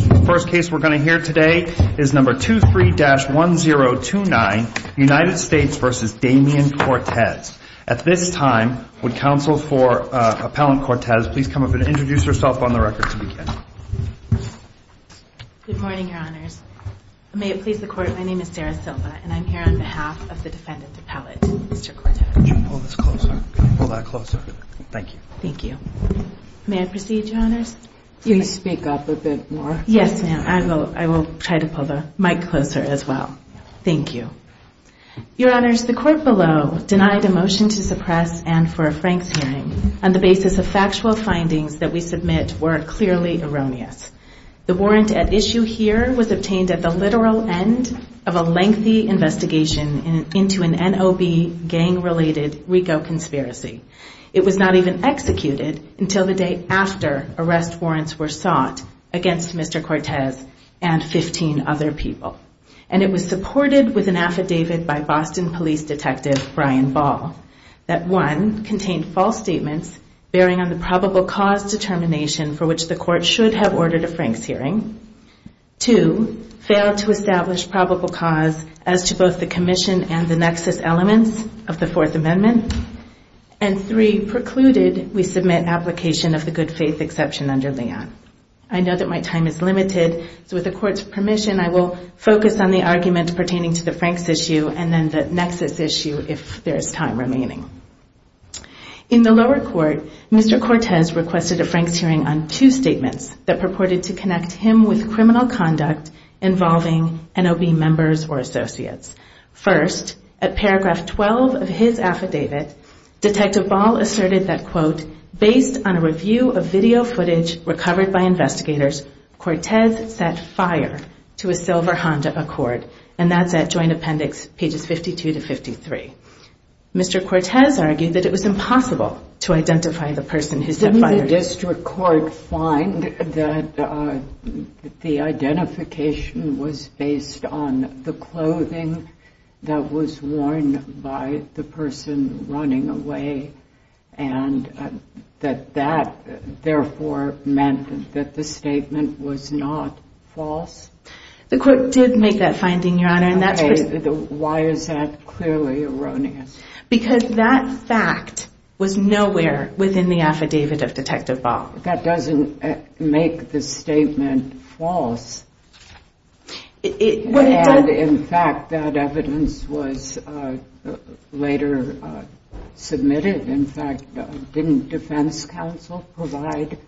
The first case we're going to hear today is number 23-1029, United States v. Damien Cortez. At this time, would counsel for Appellant Cortez please come up and introduce herself on the record to begin? Good morning, Your Honors. May it please the Court, my name is Dara Silva, and I'm here on behalf of the defendant Appellate Mr. Cortez. Could you pull this closer? Pull that closer. Thank you. Thank you. May I proceed, Your Honors? Can you speak up a bit more? Yes, ma'am. I will try to pull the mic closer as well. Thank you. Your Honors, the court below denied a motion to suppress Anne for a Franks hearing on the basis of factual findings that we submit were clearly erroneous. The warrant at issue here was obtained at the literal end of a lengthy investigation into an NOB gang-related RICO conspiracy. It was not even executed until the day after arrest warrants were sought against Mr. Cortez and 15 other people. And it was supported with an affidavit by Boston Police Detective Brian Ball that 1. contained false statements bearing on the probable cause determination for which the court should have ordered a Franks hearing, 2. failed to establish probable cause as to both the commission and the nexus elements of the case, and 3. precluded we submit application of the good faith exception under Leon. I know that my time is limited, so with the court's permission, I will focus on the argument pertaining to the Franks issue and then the nexus issue if there is time remaining. In the lower court, Mr. Cortez requested a Franks hearing on two statements that purported to connect him with criminal conduct involving NOB members or associates. First, at paragraph 12 of his affidavit, Detective Ball asserted that, quote, based on a review of video footage recovered by investigators, Cortez set fire to a silver Honda Accord. And that's at Joint Appendix pages 52 to 53. Mr. Cortez argued that it was impossible to identify the person who set fire. Did the district court find that the identification was based on the clothing that was worn by the person running away? And that that, therefore, meant that the statement was not false? The court did make that finding, Your Honor. Okay. Why is that clearly erroneous? Because that fact was nowhere within the affidavit of Detective Ball. That doesn't make the statement false. In fact, that evidence was later submitted. In fact, didn't defense counsel provide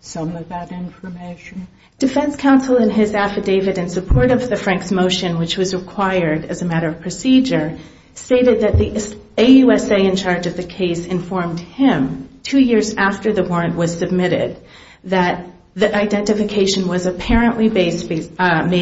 some of that information? Defense counsel in his affidavit in support of the Franks motion, which was required as a matter of procedure, stated that the AUSA in charge of the case informed him, two years after the warrant was submitted, that the identification was apparently made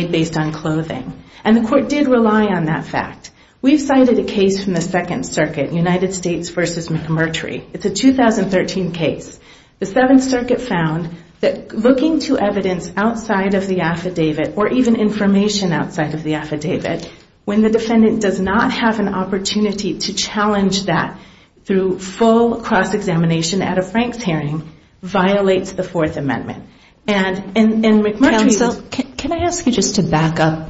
based on clothing. And the court did rely on that fact. We've cited a case from the Second Circuit, United States v. McMurtry. It's a 2013 case. The Seventh Circuit found that looking to evidence outside of the affidavit, or even information outside of the affidavit, when the defendant does not have an opportunity to challenge that through full cross-examination at a Franks hearing, violates the Fourth Amendment. And McMurtry was- Counsel, can I ask you just to back up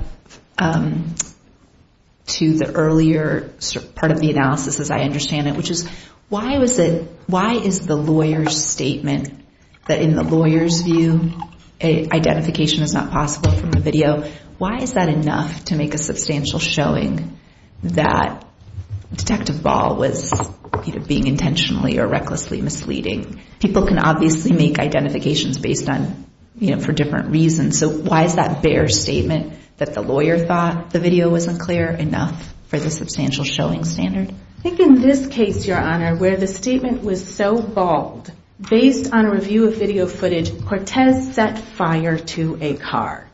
to the earlier part of the analysis as I understand it, which is why is the lawyer's statement that in the lawyer's view, identification is not possible from the video, why is that enough to make a substantial showing that Detective Ball was being intentionally or recklessly misleading? People can obviously make identifications based on, you know, for different reasons. So why is that bare statement that the lawyer thought the video was unclear enough for the substantial showing standard? I think in this case, Your Honor, where the statement was so bald, based on a review of video footage, Cortez set fire to a car.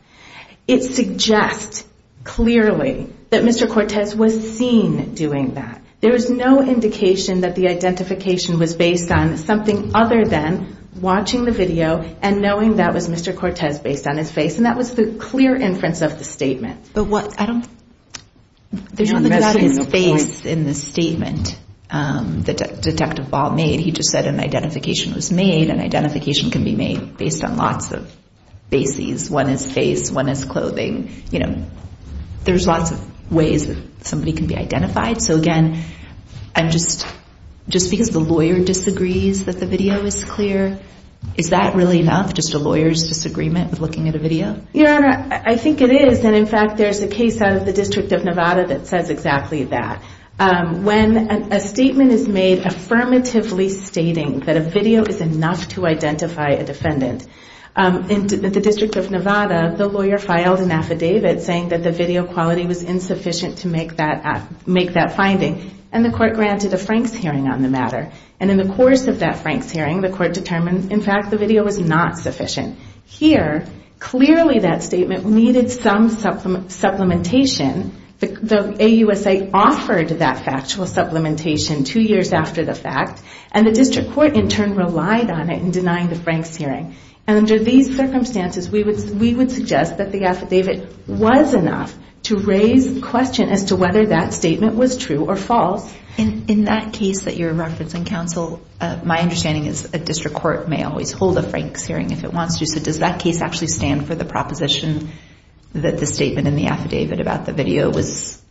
It suggests clearly that Mr. Cortez was seen doing that. There is no indication that the identification was based on something other than watching the video and knowing that was Mr. Cortez based on his face, and that was the clear inference of the statement. There's nothing about his face in the statement that Detective Ball made. He just said an identification was made. An identification can be made based on lots of bases. One is face. One is clothing. You know, there's lots of ways that somebody can be identified. So, again, just because the lawyer disagrees that the video is clear, is that really enough, just a lawyer's disagreement with looking at a video? Your Honor, I think it is, and, in fact, there's a case out of the District of Nevada that says exactly that. When a statement is made affirmatively stating that a video is enough to identify a defendant, in the District of Nevada, the lawyer filed an affidavit saying that the video quality was insufficient to make that finding, and the court granted a Franks hearing on the matter. And in the course of that Franks hearing, the court determined, in fact, the video was not sufficient. Here, clearly that statement needed some supplementation. The AUSA offered that factual supplementation two years after the fact, and the District Court, in turn, relied on it in denying the Franks hearing. And under these circumstances, we would suggest that the affidavit was enough to raise questions as to whether that statement was true or false. In that case that you're referencing, Counsel, my understanding is a District Court may always hold a Franks hearing if it wants to, so does that case actually stand for the proposition that the statement in the affidavit about the video was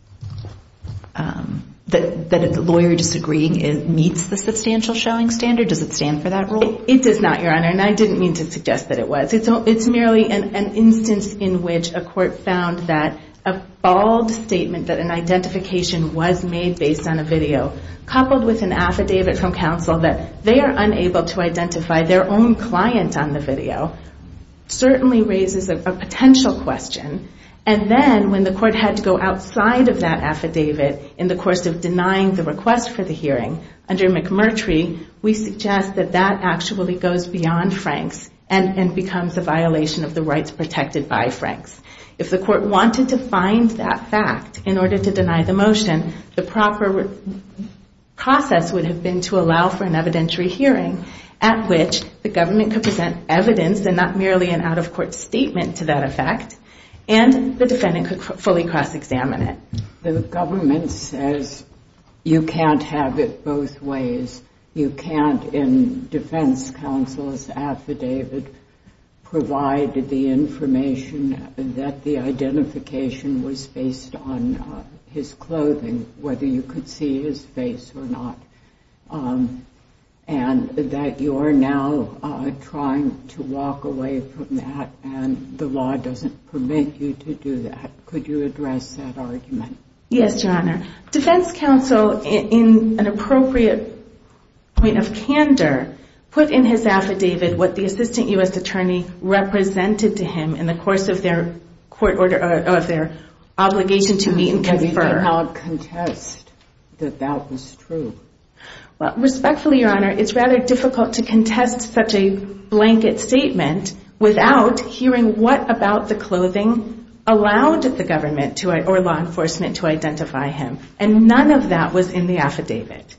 that a lawyer disagreeing meets the substantial showing standard? Does it stand for that rule? It does not, Your Honor, and I didn't mean to suggest that it was. It's merely an instance in which a court found that a bald statement that an identification was made based on a video, coupled with an affidavit from Counsel that they are unable to identify their own client on the video, certainly raises a potential question, and then when the court had to go outside of that affidavit in the course of denying the request for the hearing under McMurtry, we suggest that that actually goes beyond Franks and becomes a violation of the rights protected by Franks. If the court wanted to find that fact in order to deny the motion, the proper process would have been to allow for an evidentiary hearing at which the government could present evidence and not merely an out-of-court statement to that effect, and the defendant could fully cross-examine it. The government says you can't have it both ways. You can't, in defense counsel's affidavit, provide the information that the identification was based on his clothing, whether you could see his face or not, and that you are now trying to walk away from that and the law doesn't permit you to do that. Could you address that argument? Yes, Your Honor. Defense counsel, in an appropriate point of candor, put in his affidavit what the assistant U.S. attorney represented to him in the course of their obligation to meet and confer. Respectfully, Your Honor, it's rather difficult to contest such a blanket statement without hearing what about the clothing allowed the government or law enforcement to identify him, and none of that was in the affidavit.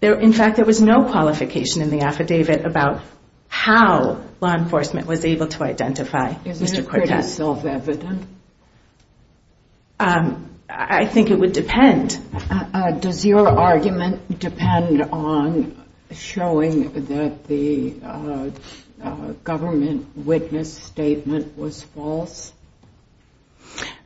In fact, there was no qualification in the affidavit about how law enforcement was able to identify Mr. Cortez. Isn't it pretty self-evident? I think it would depend. Does your argument depend on showing that the government witness statement was false?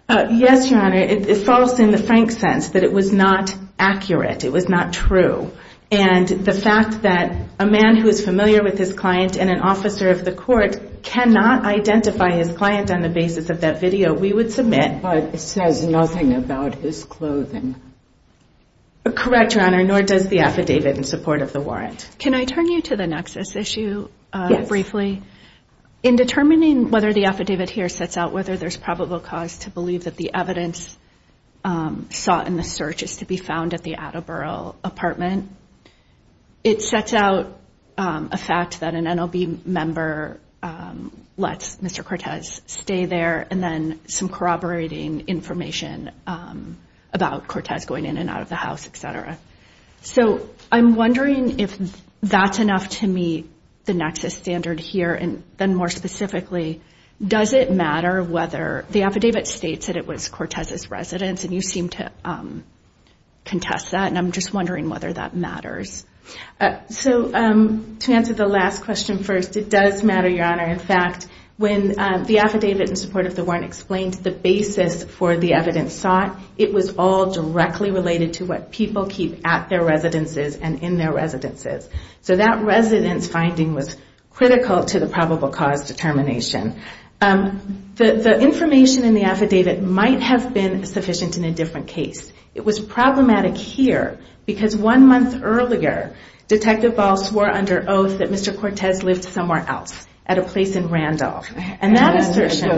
Yes, Your Honor. It's false in the frank sense, that it was not accurate, it was not true. And the fact that a man who is familiar with his client and an officer of the court cannot identify his client on the basis of that video, we would submit that it says nothing about his clothing. Correct, Your Honor, nor does the affidavit in support of the warrant. Can I turn you to the nexus issue briefly? In determining whether the affidavit here sets out whether there's probable cause to believe that the evidence sought in the search is to be found at the Attleboro apartment, it sets out a fact that an NLB member lets Mr. Cortez stay there, and then some corroborating information about Cortez going in and out of the house, etc. So I'm wondering if that's enough to meet the nexus standard here, and then more specifically, does it matter whether the affidavit states that it was Cortez's residence, and you seem to contest that, and I'm just wondering whether that matters. So to answer the last question first, it does matter, Your Honor. In fact, when the affidavit in support of the warrant explained the basis for the evidence sought, it was all directly related to what people keep at their residences and in their residences. So that residence finding was critical to the probable cause determination. The information in the affidavit might have been sufficient in a different case. It was problematic here, because one month earlier, Detective Ball swore under oath that Mr. Cortez lived somewhere else, at a place in Randolph, and that assertion...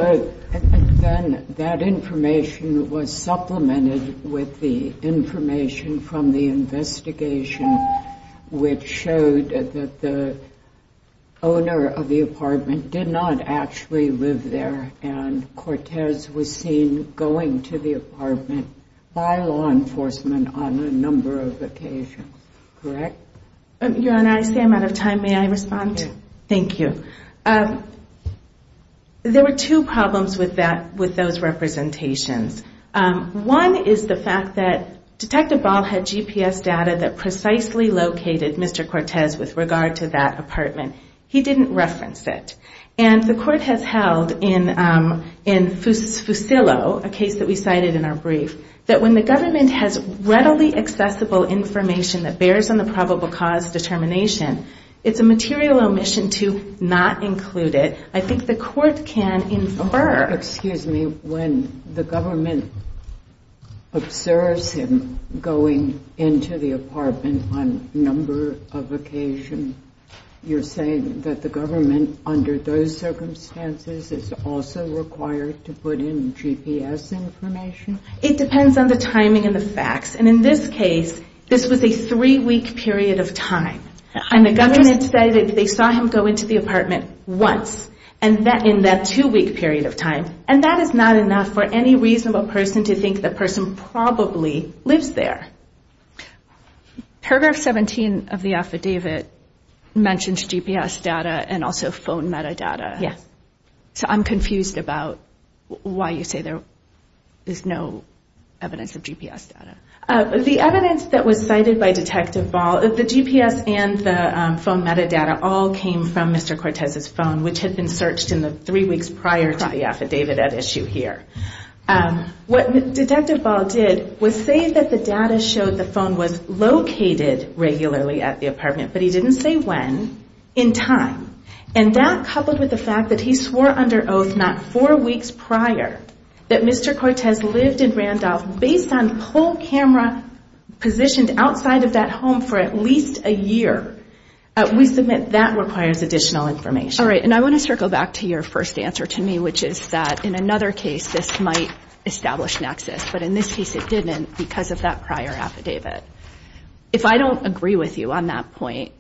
And then that information was supplemented with the information from the investigation, which showed that the owner of the apartment did not actually live in Randolph. He did not actually live there, and Cortez was seen going to the apartment by law enforcement on a number of occasions. Correct? Your Honor, I see I'm out of time. May I respond? Thank you. There were two problems with those representations. One is the fact that Detective Ball had GPS data that precisely located Mr. Cortez with regard to that apartment. He didn't reference it. And the court has held in Fusillo, a case that we cited in our brief, that when the government has readily accessible information that bears on the probable cause determination, it's a material omission to not include it. I think the court can infer... Excuse me. When the government observes him going into the apartment on a number of occasions, you're saying that it's a material omission? I'm saying that the government, under those circumstances, is also required to put in GPS information? It depends on the timing and the facts. And in this case, this was a three-week period of time. And the government said they saw him go into the apartment once in that two-week period of time, and that is not enough for any reasonable person to think the person probably lives there. Paragraph 17 of the affidavit mentions GPS data and also phone metadata. So I'm confused about why you say there is no evidence of GPS data. The evidence that was cited by Detective Ball, the GPS and the phone metadata all came from Mr. Cortez's phone, which had been searched in the three weeks prior to the affidavit at issue here. What Detective Ball did was say that the data showed the phone was located regularly at the apartment, but he didn't say when, in time. And that, coupled with the fact that he swore under oath not four weeks prior that Mr. Cortez lived in Randolph based on whole camera positioned outside of that home for at least a year, we submit that requires additional information. All right. And I want to circle back to your first answer to me, which is that in another case, this might establish nexus. But in this case, it didn't because of that prior affidavit. If I don't agree with you on that point,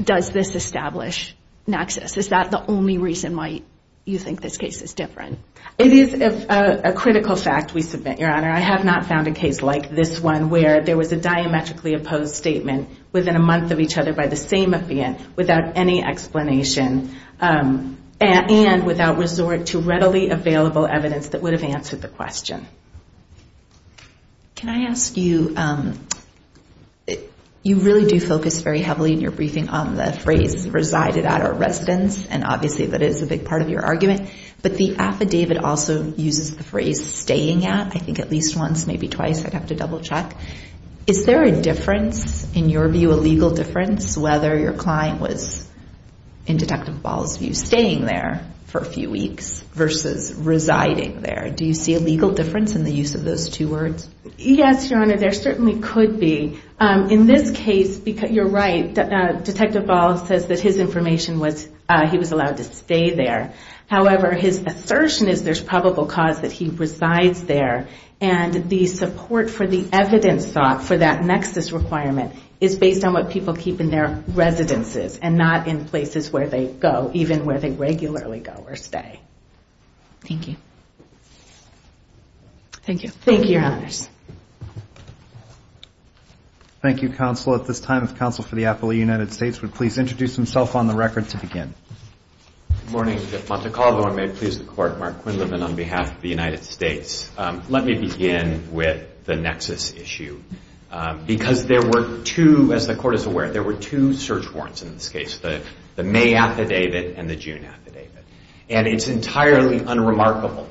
does this establish nexus? Is that the only reason why you think this case is different? I have not found a case like this one where there was a diametrically opposed statement within a month of each other by the same affidavit without any explanation and without resort to readily available evidence that would have answered the question. Can I ask you, you really do focus very heavily in your briefing on the phrase resided at our residence, and obviously that is a big part of your argument, but the affidavit also uses the phrase staying at. Is there a difference in your view, a legal difference, whether your client was in Detective Ball's view staying there for a few weeks versus residing there? Do you see a legal difference in the use of those two words? Yes, Your Honor, there certainly could be. In this case, you're right, Detective Ball says that his information was he was allowed to stay there. However, his assertion is there's probable cause that he resides there, and the support for the evidence sought for that nexus requirement is based on what people keep in their residences and not in places where they go, even where they regularly go or stay. Thank you. Mr. Monte Carlo, and may it please the Court, Mark Quinlivan on behalf of the United States. Let me begin with the nexus issue, because there were two, as the Court is aware, there were two search warrants in this case, the May affidavit and the June affidavit. And it's entirely unremarkable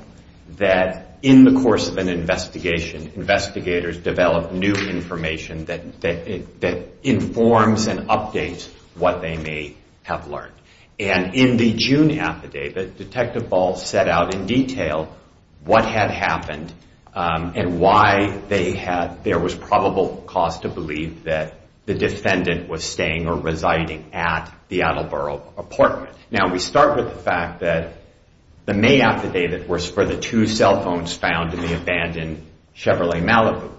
that in the course of an investigation, investigators develop new information that informs and updates what they may have learned. And in the June affidavit, Detective Ball set out in detail what had happened and why there was probable cause to believe that the defendant was staying or residing at the Attleboro apartment. Now, we start with the fact that the May affidavit was for the two cell phones found in the abandoned Chevrolet Malibu.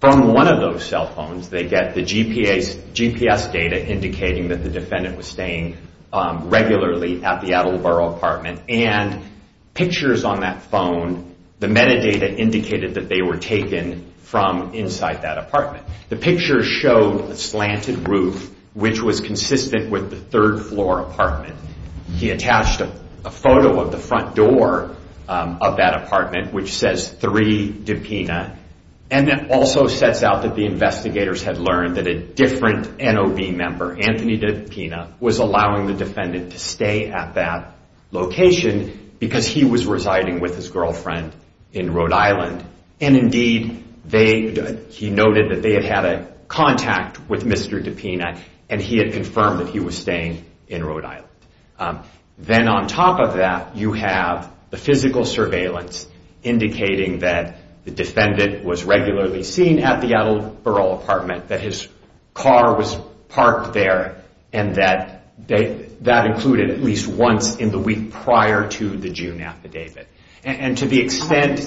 From one of those cell phones, they get the GPS data indicating that the defendant was staying at the Attleboro apartment. And pictures on that phone, the metadata indicated that they were taken from inside that apartment. The picture showed a slanted roof, which was consistent with the third floor apartment. He attached a photo of the front door of that apartment, which says 3 Dupina. And it also sets out that the investigators had learned that a different NOB member, Anthony Dupina, was allowed in the apartment. And he was allowing the defendant to stay at that location because he was residing with his girlfriend in Rhode Island. And indeed, he noted that they had had a contact with Mr. Dupina, and he had confirmed that he was staying in Rhode Island. Then on top of that, you have the physical surveillance indicating that the defendant was regularly seen at the Attleboro apartment, that his car was parked there, and that that included at least once in the week prior to the June affidavit. And to the extent...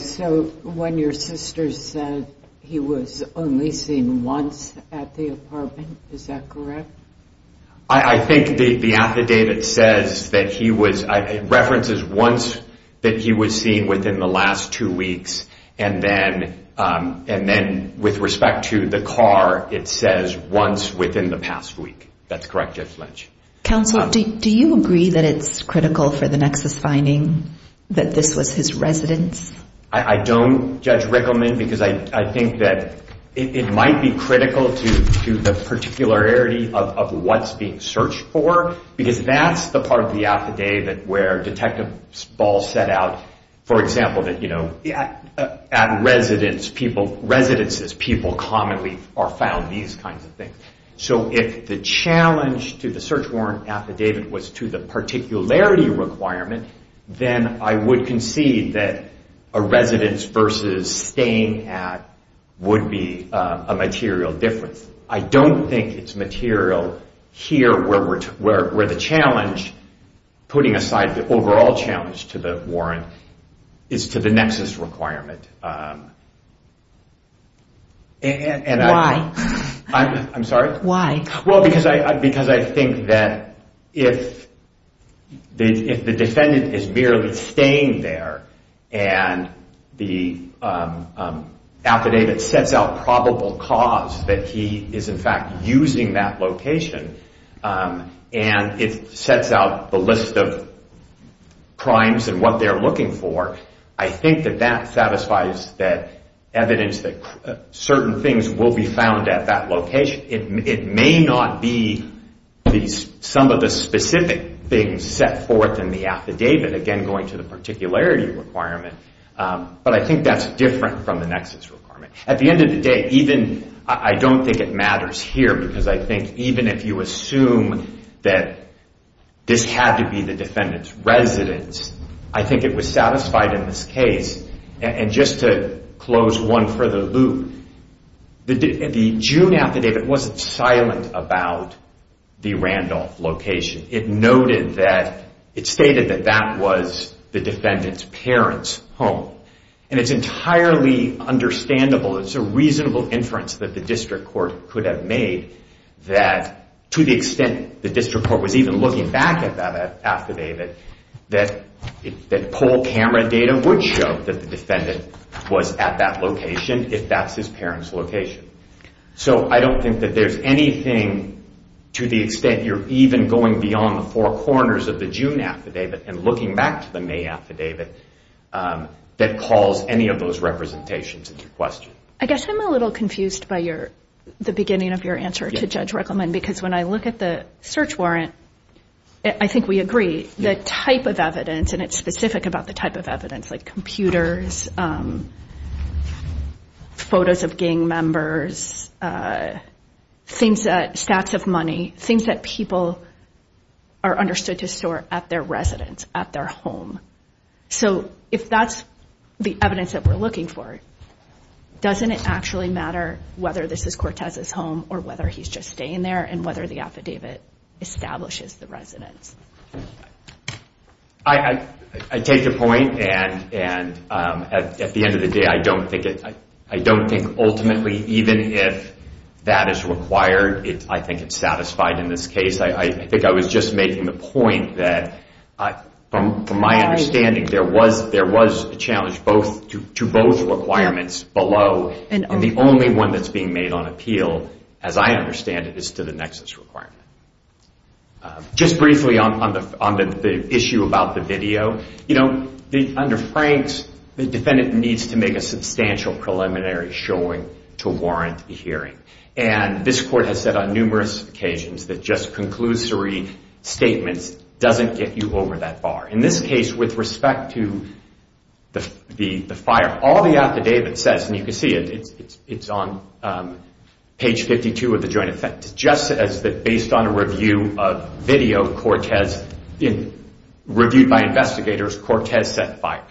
I think the affidavit says that he was, it references once that he was seen within the last two weeks, and then with respect to the car, it says once within the past week. That's correct, Judge Lynch. I don't, Judge Rickleman, because I think that it might be critical to the particularity of what's being searched for, because that's the part of the affidavit where Detective Ball set out, for example, that at residences, people commonly are found these kinds of things. So if the challenge to the search warrant affidavit was to the particularity requirement, then I would concede that a residence versus staying at would be a material difference. I don't think it's material here where the challenge, putting aside the overall challenge to the warrant, is to the nexus requirement. Why? Because I think that if the defendant is merely staying there, and the affidavit sets out probable cause that he is in fact using that location, and it sets out the list of crimes and what they're looking for, I think that that satisfies that evidence that certain things will be found at that location. It may not be some of the specific things set forth in the affidavit, again going to the particularity requirement, but I think that's different from the nexus requirement. At the end of the day, I don't think it matters here, because I think even if you assume that this had to be the defendant's residence, I think it was satisfied in this case. And just to close one further loop, the June affidavit wasn't silent about the Randolph location. It stated that that was the defendant's parents' home. And it's entirely understandable, it's a reasonable inference that the district court could have made, that to the extent the district court was even looking back at that affidavit, that poll camera data would show that the defendant was at that location, if that's his parents' location. So I don't think that there's anything to the extent you're even going beyond the four corners of the June affidavit and looking back to the May affidavit that calls any of those representations into question. I guess I'm a little confused by the beginning of your answer to Judge Rickleman, because when I look at the search warrant, I think we agree, the type of evidence, and it's specific about the type of evidence, like computers, photos of gang members, stats of money, things that people are understood to store at their residence, at their home. So if that's the evidence that we're looking for, doesn't it actually matter whether this is Cortez's home or whether he's just staying there, and whether the affidavit establishes the residence? I take your point, and at the end of the day, I don't think ultimately, even if that is required, I think it's satisfied in this case. I think I was just making the point that, from my understanding, there was a challenge to both requirements below, and the only one that's being made on appeal, as I understand it, is to the Nexus requirement. Just briefly on the issue about the video, under Frank's, the defendant needs to make a substantial preliminary showing to warrant a hearing, and this Court has said on numerous occasions that just conclusory statements doesn't get you over that bar. In this case, with respect to the fire, all the affidavit says, and you can see it, it's on page 52 of the joint effect, just as that based on a review of video, reviewed by investigators, Cortez set fire.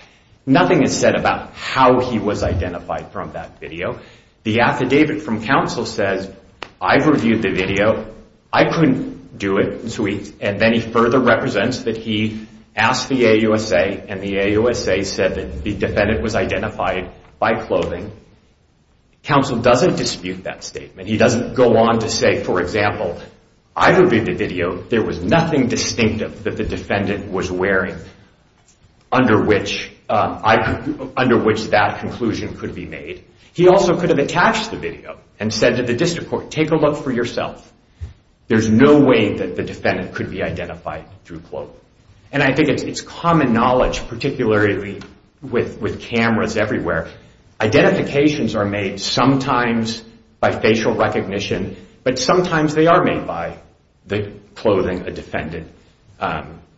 Nothing is said about how he was identified from that video. The affidavit from counsel says, I've reviewed the video, I couldn't do it, and then he further represents that he asked the AUSA, and the AUSA said that the defendant was identified by clothing. Counsel doesn't dispute that statement. He doesn't go on to say, for example, I've reviewed the video, there was nothing distinctive that the defendant was wearing, under which that conclusion could be made. He also could have attached the video and said to the district court, take a look for yourself, there's no way that the defendant could be identified through clothing. And I think it's common knowledge, particularly with cameras everywhere, identifications are made sometimes by facial recognition, but sometimes they are made by the clothing a defendant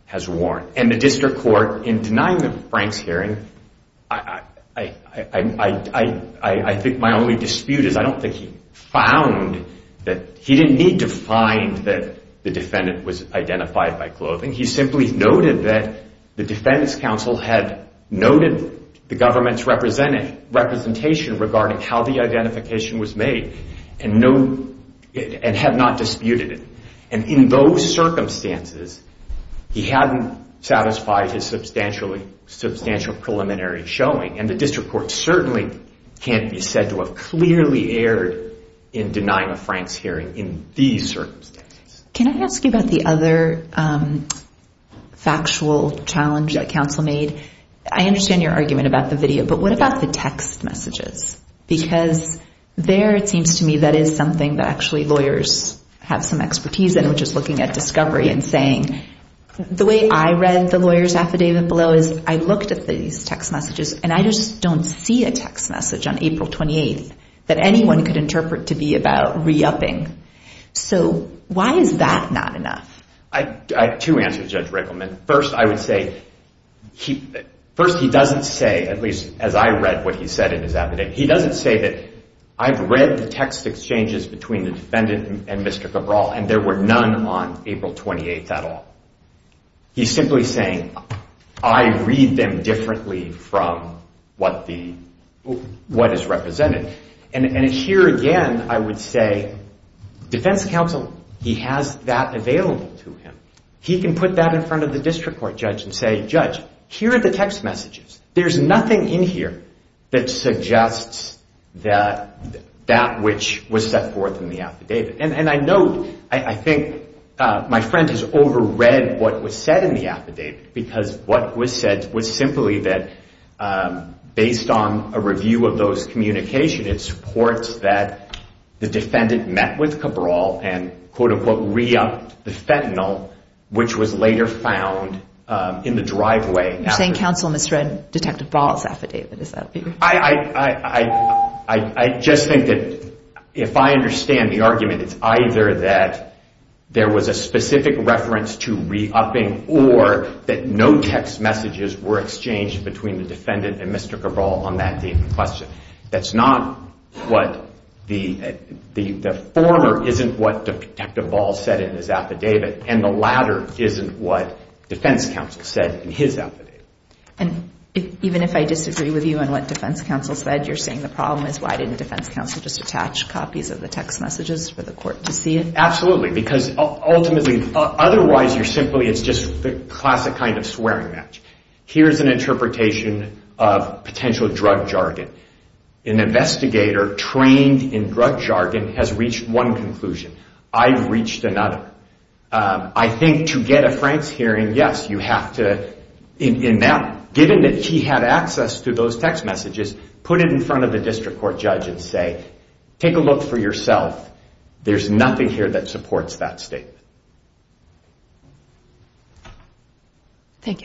has worn. And the district court, in denying the Franks hearing, I think my only dispute is, I don't think he found, he didn't need to find that the defendant was identified by clothing, he simply noted that the defense counsel had noted the government's representation regarding how the identification was made, and had not disputed it. And in those circumstances, he hadn't satisfied his substantial preliminary showing, and the district court certainly can't be said to have clearly erred in denying a Franks hearing in these circumstances. Can I ask you about the other factual challenge that counsel made? I understand your argument about the video, but what about the text messages? Because there it seems to me that is something that actually lawyers have some expertise in, which is looking at discovery and saying, the way I read the lawyer's affidavit below is, I looked at these text messages, and I just don't see a text message on April 28th that anyone could interpret to be about re-upping. So why is that not enough? I have two answers, Judge Rickleman. First, he doesn't say, at least as I read what he said in his affidavit, he doesn't say that I've read the text exchanges between the defendant and Mr. Cabral, and there were none on April 28th at all. He's simply saying, I read them differently from what is represented. And here again, I would say, defense counsel, he has that available to him. He can put that in front of the district court judge and say, Judge, here are the text messages. There's nothing in here that suggests that that which was set forth in the affidavit. And I know, I think my friend has overread what was said in the affidavit, because what was said was simply that based on a review of those communications, it supports that the defendant met with Cabral and quote-unquote re-upped the fentanyl, which was later found in the driveway. You're saying counsel misread Detective Ball's affidavit. I just think that if I understand the argument, it's either that there was a specific reference to re-upping, or that no text messages were exchanged between the defendant and Mr. Cabral on that date in question. That's not what the former isn't what Detective Ball said in his affidavit, and the latter isn't what defense counsel said in his affidavit. And even if I disagree with you on what defense counsel said, you're saying the problem is, why didn't defense counsel just attach copies of the text messages for the court to see it? Absolutely, because ultimately, otherwise you're simply, it's just the classic kind of swearing match. Here's an interpretation of potential drug jargon. An investigator trained in drug jargon has reached one conclusion. I've reached another. I think to get a Franks hearing, yes, you have to, given that he had access to those text messages, put it in front of the district court judge and say, take a look for yourself. There's nothing here that supports that statement. Thank you.